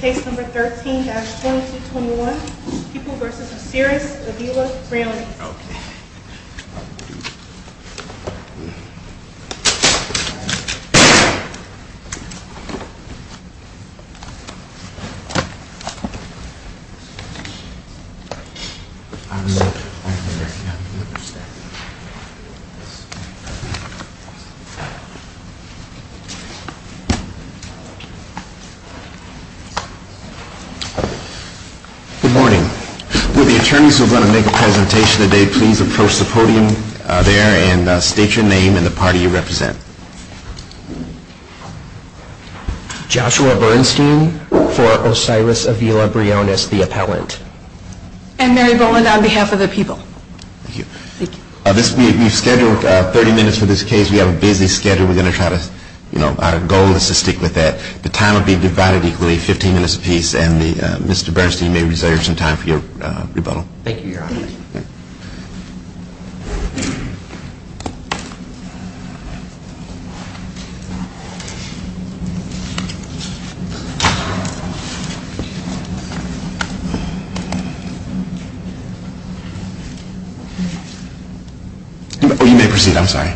Case number 13-2221, People v. Osiris-Avila-Briones Good morning. Will the attorneys who are going to make a presentation today please approach the podium there and state your name and the party you represent. Joshua Bernstein for Osiris-Avila-Briones, the appellant. And Mary Boland on behalf of the people. Thank you. We've scheduled 30 minutes for this case. We have a busy schedule. We're going to try to, you know, our goal is to stick with that. The time will be divided equally, 15 minutes apiece, and Mr. Bernstein may reserve some time for your rebuttal. Thank you, Your Honor. You may proceed. I'm sorry.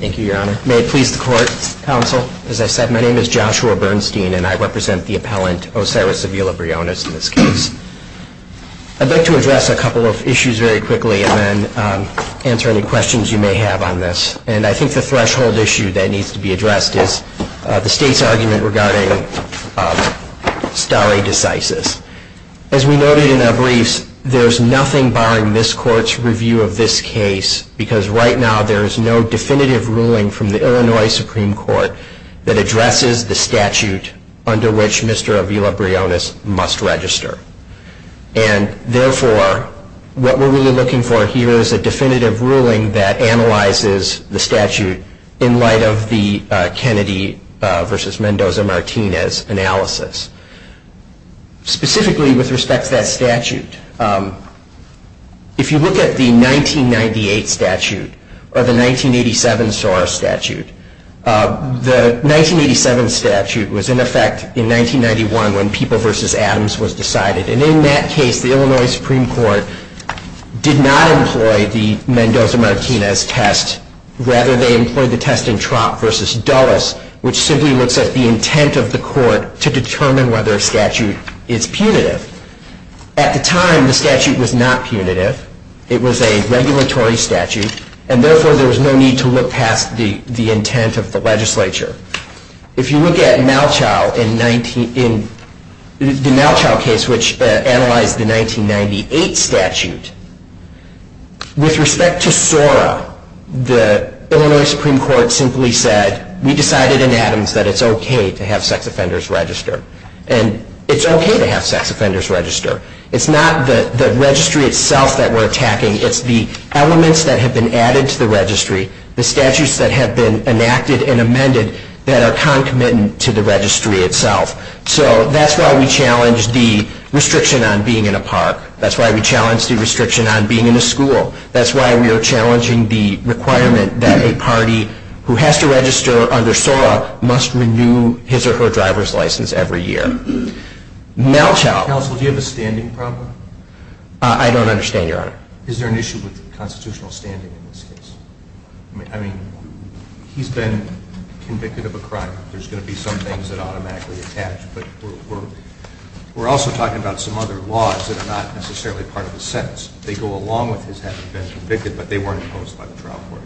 Thank you, Your Honor. May it please the court, counsel. As I said, my name is Joshua Bernstein and I represent the appellant, Osiris-Avila-Briones, in this case. I'd like to address a couple of issues very quickly and then answer any questions you may have on this. And I think the threshold issue that needs to be addressed is the state's argument regarding stare decisis. As we noted in our briefs, there's nothing barring this court's review of this case because right now there is no definitive ruling from the Illinois Supreme Court that addresses the statute under which Mr. Avila-Briones must register. And therefore, what we're really looking for here is a definitive ruling that analyzes the statute in light of the Kennedy v. Mendoza-Martinez analysis. Specifically, with respect to that statute, if you look at the 1998 statute or the 1987 SOAR statute, the 1987 statute was in effect in 1991 when People v. Adams was decided. And in that case, the Illinois Supreme Court did not employ the Mendoza-Martinez test. Rather, they employed the test in Trott v. Dulles, which simply looks at the intent of the court to determine whether a statute is punitive. At the time, the statute was not punitive. It was a regulatory statute. And therefore, there was no need to look past the intent of the legislature. If you look at the Malchow case, which analyzed the 1998 statute, with respect to SOAR, the Illinois Supreme Court simply said, we decided in Adams that it's okay to have sex offenders register. And it's okay to have sex offenders register. It's not the registry itself that we're attacking, it's the elements that have been added to the registry, the statutes that have been enacted and amended that are concomitant to the registry itself. So that's why we challenge the restriction on being in a park. That's why we challenge the restriction on being in a school. That's why we are challenging the requirement that a party who has to register under SOAR must renew his or her driver's license every year. Malchow. Counsel, do you have a standing problem? I don't understand, Your Honor. Is there an issue with constitutional standing in this case? I mean, he's been convicted of a crime. There's going to be some things that automatically attach. But we're also talking about some other laws that are not necessarily part of the sentence. They go along with his having been convicted, but they weren't imposed by the trial court.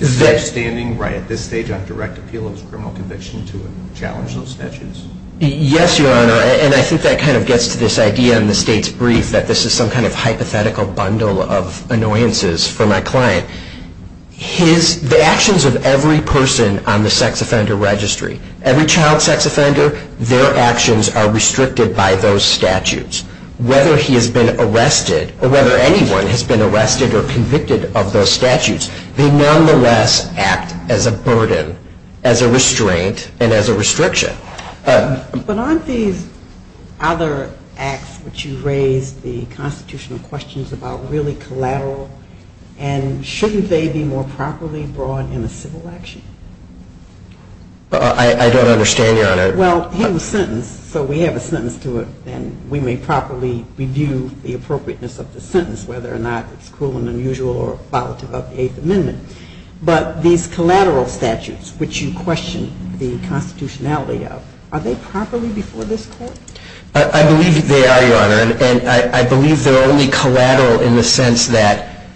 Is that standing right at this stage on direct appeal of his criminal conviction to challenge those statutes? Yes, Your Honor. And I think that kind of gets to this idea in the state's brief that this is some kind of hypothetical bundle of annoyances for my client. The actions of every person on the sex offender registry, every child sex offender, their actions are restricted by those statutes. Whether he has been arrested or whether anyone has been arrested or convicted of those statutes, they nonetheless act as a burden, as a restraint, and as a restriction. But aren't these other acts which you raised, the constitutional questions about really collateral, and shouldn't they be more properly brought in a civil action? I don't understand, Your Honor. Well, he was sentenced, so we have a sentence to it, and we may properly review the appropriateness of the sentence, whether or not it's cruel and unusual or volatile about the Eighth Amendment. But these collateral statutes which you question the constitutionality of, are they properly before this Court? I believe they are, Your Honor. And I believe they're only collateral in the sense that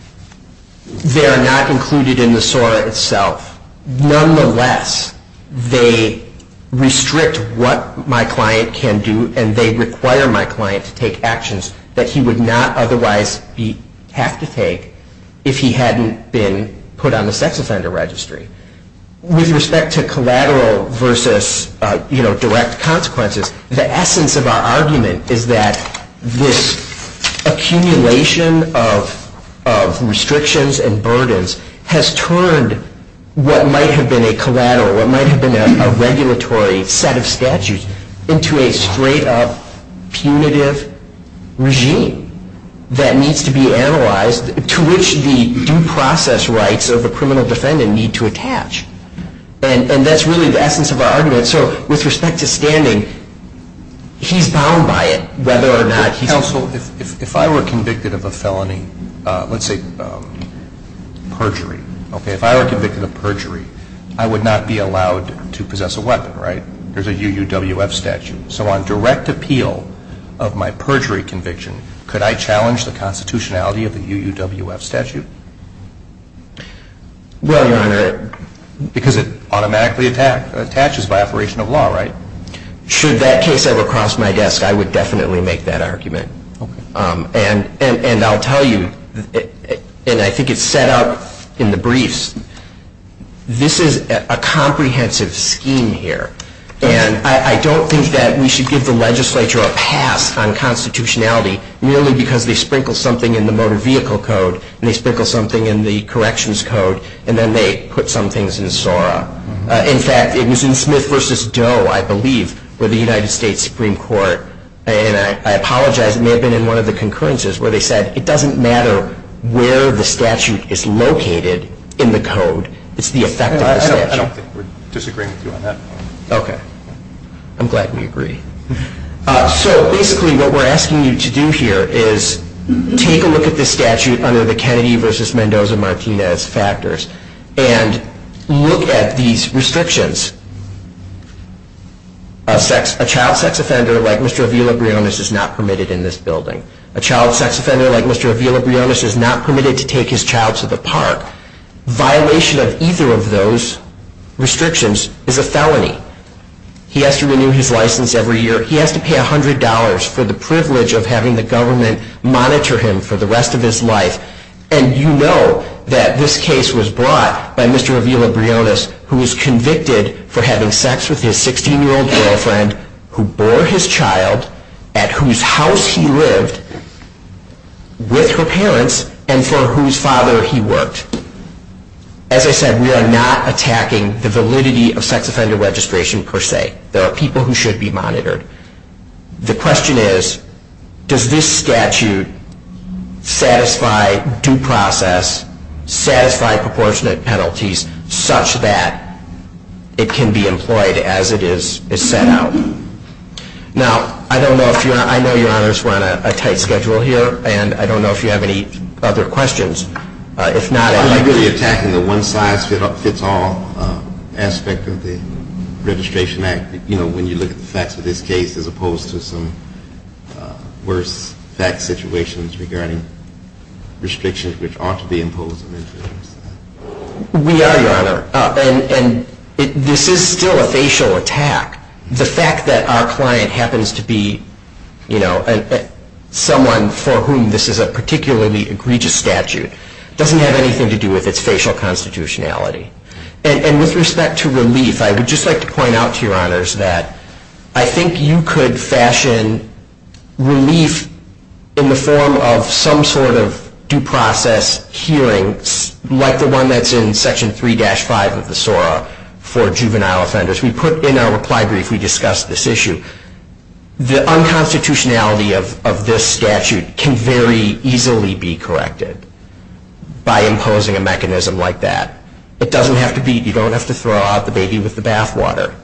they are not included in the SORA itself. Nonetheless, they restrict what my client can do, and they require my client to take actions that he would not otherwise have to take if he hadn't been put on the sex offender registry. With respect to collateral versus direct consequences, the essence of our argument is that this accumulation of restrictions and burdens has turned what might have been a collateral, what might have been a regulatory set of statutes, into a straight-up punitive regime that needs to be analyzed, to which the due process rights of a criminal defendant need to attach. And that's really the essence of our argument. So with respect to standing, he's bound by it, whether or not he's... Counsel, if I were convicted of a felony, let's say perjury, okay, if I were convicted of perjury, I would not be allowed to possess a weapon, right? There's a UUWF statute. So on direct appeal of my perjury conviction, could I challenge the constitutionality of the UUWF statute? Well, Your Honor... Because it automatically attaches by operation of law, right? Should that case ever cross my desk, I would definitely make that argument. Okay. And I'll tell you, and I think it's set up in the briefs, this is a comprehensive scheme here. And I don't think that we should give the legislature a pass on constitutionality merely because they sprinkle something in the Motor Vehicle Code and they sprinkle something in the Corrections Code and then they put some things in SORA. In fact, it was in Smith v. Doe, I believe, with the United States Supreme Court, and I apologize, it may have been in one of the concurrences, where they said it doesn't matter where the statute is located in the code, it's the effect of the statute. I don't think we're disagreeing with you on that. Okay. I'm glad we agree. So basically what we're asking you to do here is take a look at this statute under the Kennedy v. Mendoza-Martinez factors and look at these restrictions. A child sex offender like Mr. Avila-Briones is not permitted in this building. A child sex offender like Mr. Avila-Briones is not permitted to take his child to the park. Violation of either of those restrictions is a felony. He has to renew his license every year. He has to pay $100 for the privilege of having the government monitor him for the rest of his life. And you know that this case was brought by Mr. Avila-Briones, who was convicted for having sex with his 16-year-old girlfriend who bore his child at whose house he lived with her parents and for whose father he worked. As I said, we are not attacking the validity of sex offender registration per se. There are people who should be monitored. The question is, does this statute satisfy due process, satisfy proportionate penalties such that it can be employed as it is set out? Now, I know Your Honors, we're on a tight schedule here, and I don't know if you have any other questions. If not, I'd like to... Are you really attacking the one-size-fits-all aspect of the Registration Act when you look at the facts of this case, as opposed to some worse-facts situations regarding restrictions which ought to be imposed on individuals? We are, Your Honor, and this is still a facial attack. The fact that our client happens to be someone for whom this is a particularly egregious statute doesn't have anything to do with its facial constitutionality. And with respect to relief, I would just like to point out to Your Honors that I think you could fashion relief in the form of some sort of due process hearing, like the one that's in Section 3-5 of the SORA for juvenile offenders. We put in our reply brief, we discussed this issue. The unconstitutionality of this statute can very easily be corrected by imposing a mechanism like that. It doesn't have to be... You don't have to throw out the baby with the bathwater.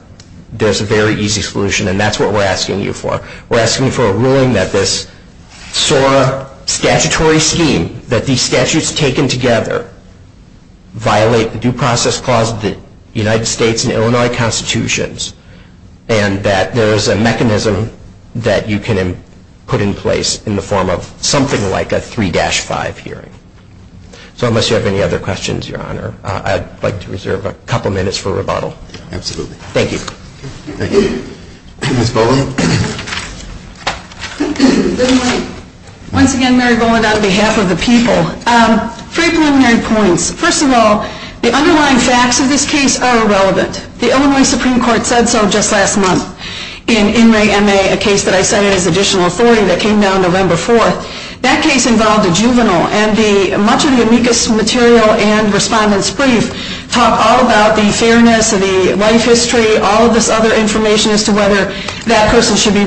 There's a very easy solution, and that's what we're asking you for. We're asking you for a ruling that this SORA statutory scheme, that these statutes taken together, violate the due process clause of the United States and Illinois Constitutions, and that there is a mechanism that you can put in place in the form of something like a 3-5 hearing. So unless you have any other questions, Your Honor, I'd like to reserve a couple minutes for rebuttal. Absolutely. Thank you. Thank you. Ms. Boland? Once again, Mary Boland on behalf of the people. Three preliminary points. First of all, the underlying facts of this case are irrelevant. The Illinois Supreme Court said so just last month in In Re Ma, a case that I cited as additional authority that came down November 4th. That case involved a juvenile, and much of the amicus material and respondent's brief talk all about the fairness of the life history, all of this other information as to whether that person should be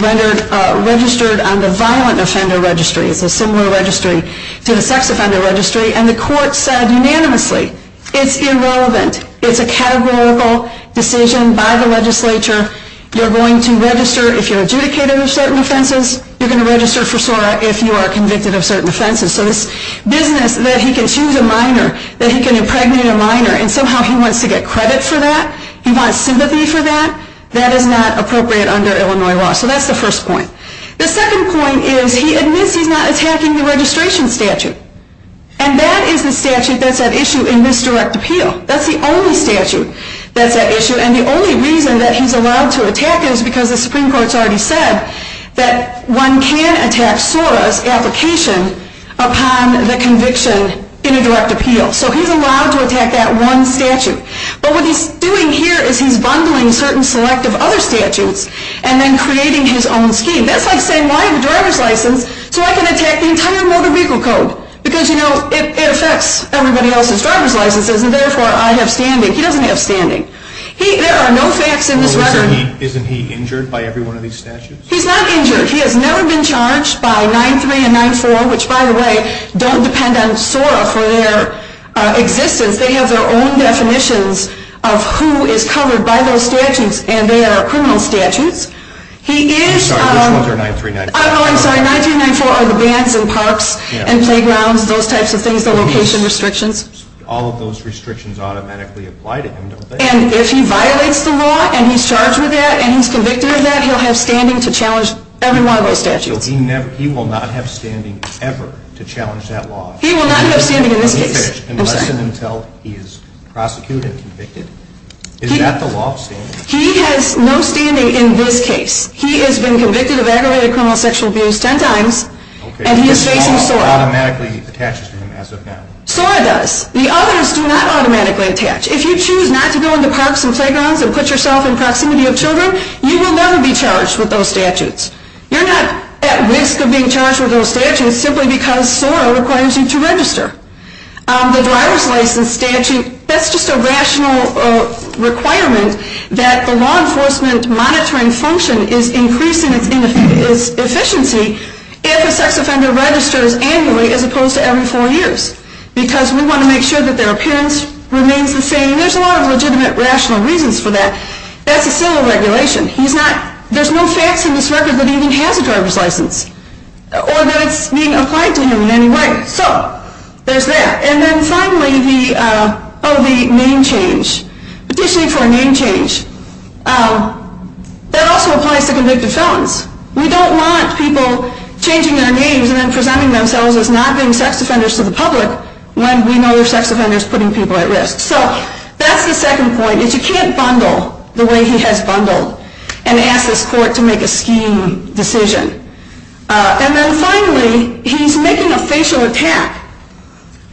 registered on the violent offender registry. It's a similar registry to the sex offender registry. And the court said unanimously it's irrelevant. It's a categorical decision by the legislature. You're going to register if you're adjudicated for certain offenses. You're going to register for SORA if you are convicted of certain offenses. So this business that he can choose a minor, that he can impregnate a minor, and somehow he wants to get credit for that, he wants sympathy for that, that is not appropriate under Illinois law. So that's the first point. The second point is he admits he's not attacking the registration statute. And that is the statute that's at issue in this direct appeal. That's the only statute that's at issue. And the only reason that he's allowed to attack it is because the Supreme Court has already said that one can attack SORA's application upon the conviction in a direct appeal. So he's allowed to attack that one statute. But what he's doing here is he's bundling certain selective other statutes and then creating his own scheme. That's like saying, well, I have a driver's license, so I can attack the entire motor vehicle code because, you know, it affects everybody else's driver's licenses, and therefore I have standing. He doesn't have standing. There are no facts in this record. So isn't he injured by every one of these statutes? He's not injured. He has never been charged by 9-3 and 9-4, which, by the way, don't depend on SORA for their existence. They have their own definitions of who is covered by those statutes, and they are criminal statutes. I'm sorry, which ones are 9-3 and 9-4? Oh, I'm sorry, 9-3 and 9-4 are the bands and parks and playgrounds, those types of things, the location restrictions. All of those restrictions automatically apply to him, don't they? And if he violates the law and he's charged with that and he's convicted of that, he'll have standing to challenge every one of those statutes. He will not have standing ever to challenge that law. He will not have standing in this case. Unless and until he is prosecuted and convicted. Is that the law of standing? He has no standing in this case. He has been convicted of aggravated criminal sexual abuse 10 times, and he is facing SORA. SORA automatically attaches to him as of now. SORA does. The others do not automatically attach. If you choose not to go into parks and playgrounds and put yourself in proximity of children, you will never be charged with those statutes. You're not at risk of being charged with those statutes simply because SORA requires you to register. The driver's license statute, that's just a rational requirement that the law enforcement monitoring function is increasing its efficiency if a sex offender registers annually as opposed to every four years because we want to make sure that their appearance remains the same. There's a lot of legitimate rational reasons for that. That's a civil regulation. There's no facts in this record that even has a driver's license or that it's being applied to him in any way. So there's that. And then finally, the name change. Petitioning for a name change. That also applies to convicted felons. We don't want people changing their names and then presenting themselves as not being sex offenders to the public when we know they're sex offenders putting people at risk. So that's the second point, is you can't bundle the way he has bundled and ask this court to make a scheme decision. And then finally, he's making a facial attack,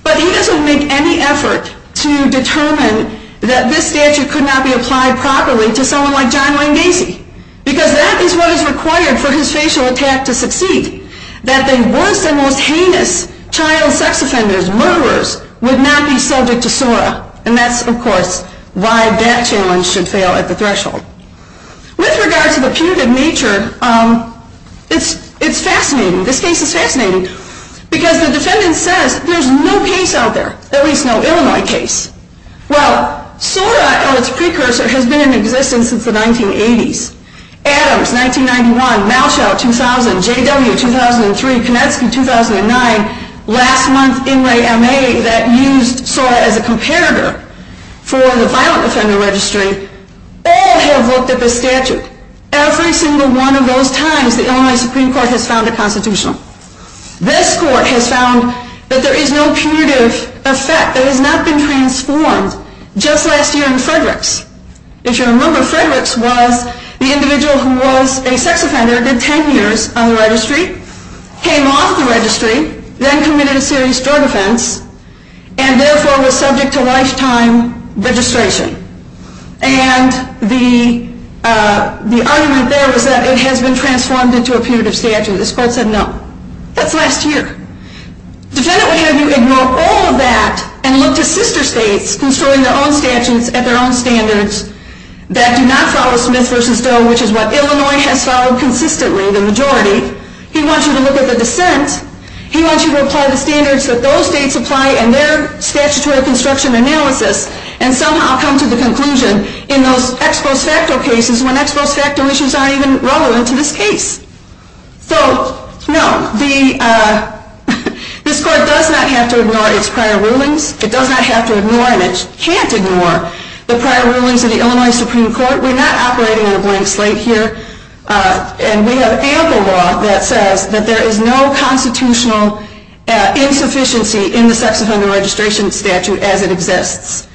but he doesn't make any effort to determine that this statute could not be applied properly to someone like John Wayne Gacy because that is what is required for his facial attack to succeed, that the worst and most heinous child sex offenders, murderers, would not be subject to SORA. And that's, of course, why that challenge should fail at the threshold. With regard to the punitive nature, it's fascinating. This case is fascinating because the defendant says there's no case out there, at least no Illinois case. Well, SORA or its precursor has been in existence since the 1980s. Adams, 1991, Malchow, 2000, J.W., 2003, Konecki, 2009, last month, Inouye, M.A. that used SORA as a comparator for the violent offender registry, all have looked at this statute. Every single one of those times, the Illinois Supreme Court has found a constitutional. This court has found that there is no punitive effect. It has not been transformed. Just last year in Frederick's, if you remember, Frederick's was the individual who was a sex offender, did 10 years on the registry, came off the registry, then committed a serious drug offense, and therefore was subject to lifetime registration. And the argument there was that it has been transformed into a punitive statute. This court said no. That's last year. Defendant would have you ignore all of that and look to sister states construing their own statutes at their own standards that do not follow Smith v. Doe, which is what Illinois has followed consistently, the majority. He wants you to look at the dissent. He wants you to apply the standards that those states apply in their statutory construction analysis and somehow come to the conclusion in those ex post facto cases when ex post facto issues aren't even relevant to this case. This court does not have to ignore its prior rulings, which can't ignore the prior rulings of the Illinois Supreme Court. We're not operating on a blank slate here. And we have ample law that says that there is no constitutional insufficiency in the sex offender registration statute as it exists.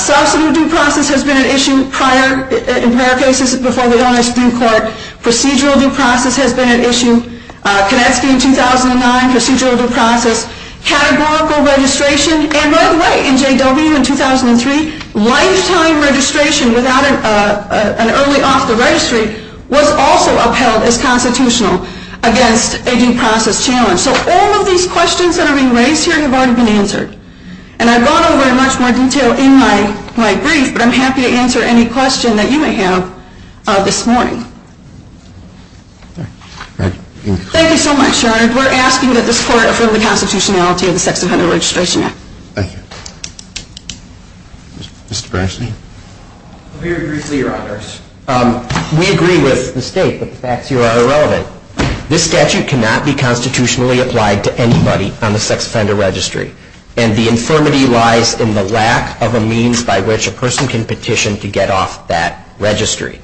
Substantive due process has been an issue prior, in prior cases before the Illinois Supreme Court. Procedural due process has been an issue. Konetsky in 2009, procedural due process. Categorical registration. And by the way, in J.W. in 2003, lifetime registration without an early off the registry was also upheld as constitutional against a due process challenge. So all of these questions that are being raised here have already been answered. And I've gone over in much more detail in my brief, but I'm happy to answer any question that you may have this morning. Thank you so much. We're asking that this Court affirm the constitutionality of the Sex Offender Registration Act. Thank you. Mr. Bernstein. Very briefly, Your Honors. We agree with the State, but the facts here are irrelevant. This statute cannot be constitutionally applied to anybody on the sex offender registry. And the infirmity lies in the lack of a means by which a person can petition to get off that registry.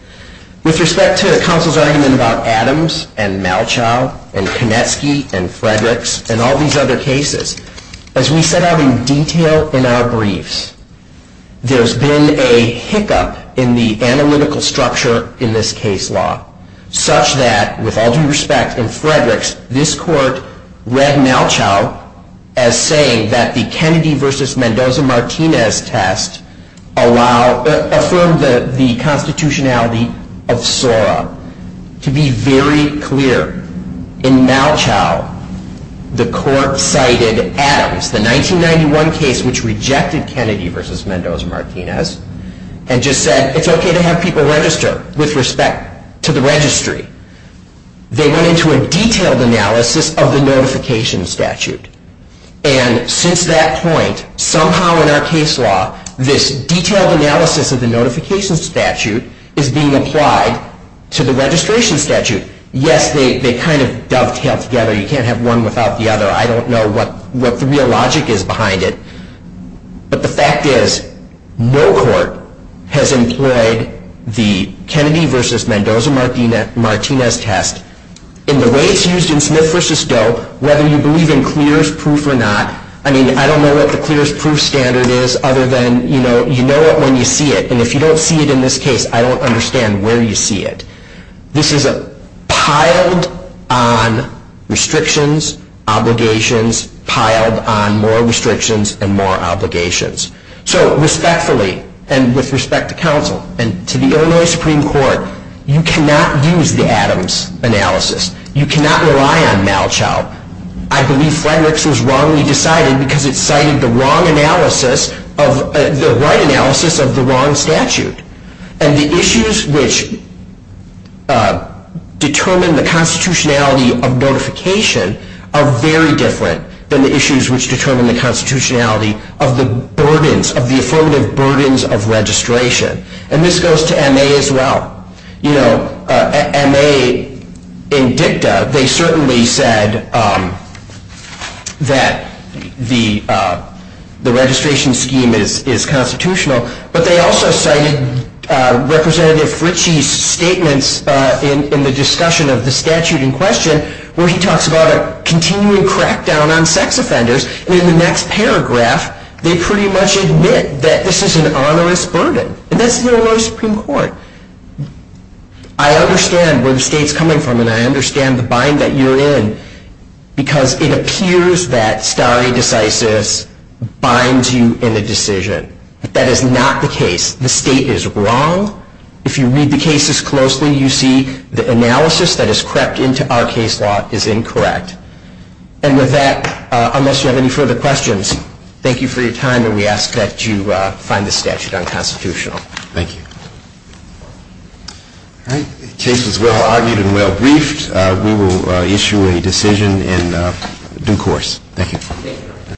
With respect to the counsel's argument about Adams and Malchow and Konetsky and Fredericks and all these other cases, as we set out in detail in our briefs, there's been a hiccup in the analytical structure in this case law, such that, with all due respect, in Fredericks, this Court read Malchow as saying that the Kennedy v. Mendoza-Martinez test affirmed the constitutionality of It's very clear, in Malchow, the Court cited Adams, the 1991 case which rejected Kennedy v. Mendoza-Martinez, and just said it's okay to have people register with respect to the registry. They went into a detailed analysis of the notification statute. And since that point, somehow in our case law, this detailed analysis of the notification statute is being applied to the registration statute. Yes, they kind of dovetail together. You can't have one without the other. I don't know what the real logic is behind it. But the fact is, no court has employed the Kennedy v. Mendoza-Martinez test in the way it's used in Smith v. Doe, whether you believe in clearest proof or not. I mean, I don't know what the clearest proof standard is, other than you know it when you see it. And if you don't see it in this case, I don't understand where you see it. This is piled on restrictions, obligations, piled on more restrictions and more obligations. So respectfully, and with respect to counsel, and to the Illinois Supreme Court, you cannot use the Adams analysis. You cannot rely on Malchow. I believe Frederick's was wrongly decided because it cited the wrong analysis of the right analysis of the wrong statute. And the issues which determine the constitutionality of notification are very different than the issues which determine the constitutionality of the burdens, of the affirmative burdens of registration. And this goes to M.A. as well. You know, M.A. in dicta, they certainly said that the registration scheme is constitutional, but they also cited Representative Ritchie's statements in the discussion of the statute in question, where he talks about a continuing crackdown on sex offenders, and in the next paragraph they pretty much admit that this is an onerous burden. And that's the Illinois Supreme Court. I understand where the state's coming from, and I understand the bind that you're in, because it appears that stare decisis binds you in a decision. That is not the case. The state is wrong. If you read the cases closely, you see the analysis that has crept into our case law is incorrect. And with that, unless you have any further questions, thank you for your time, and we ask that you find the statute unconstitutional. Thank you. The case was well argued and well briefed. We will issue a decision in due course. Thank you.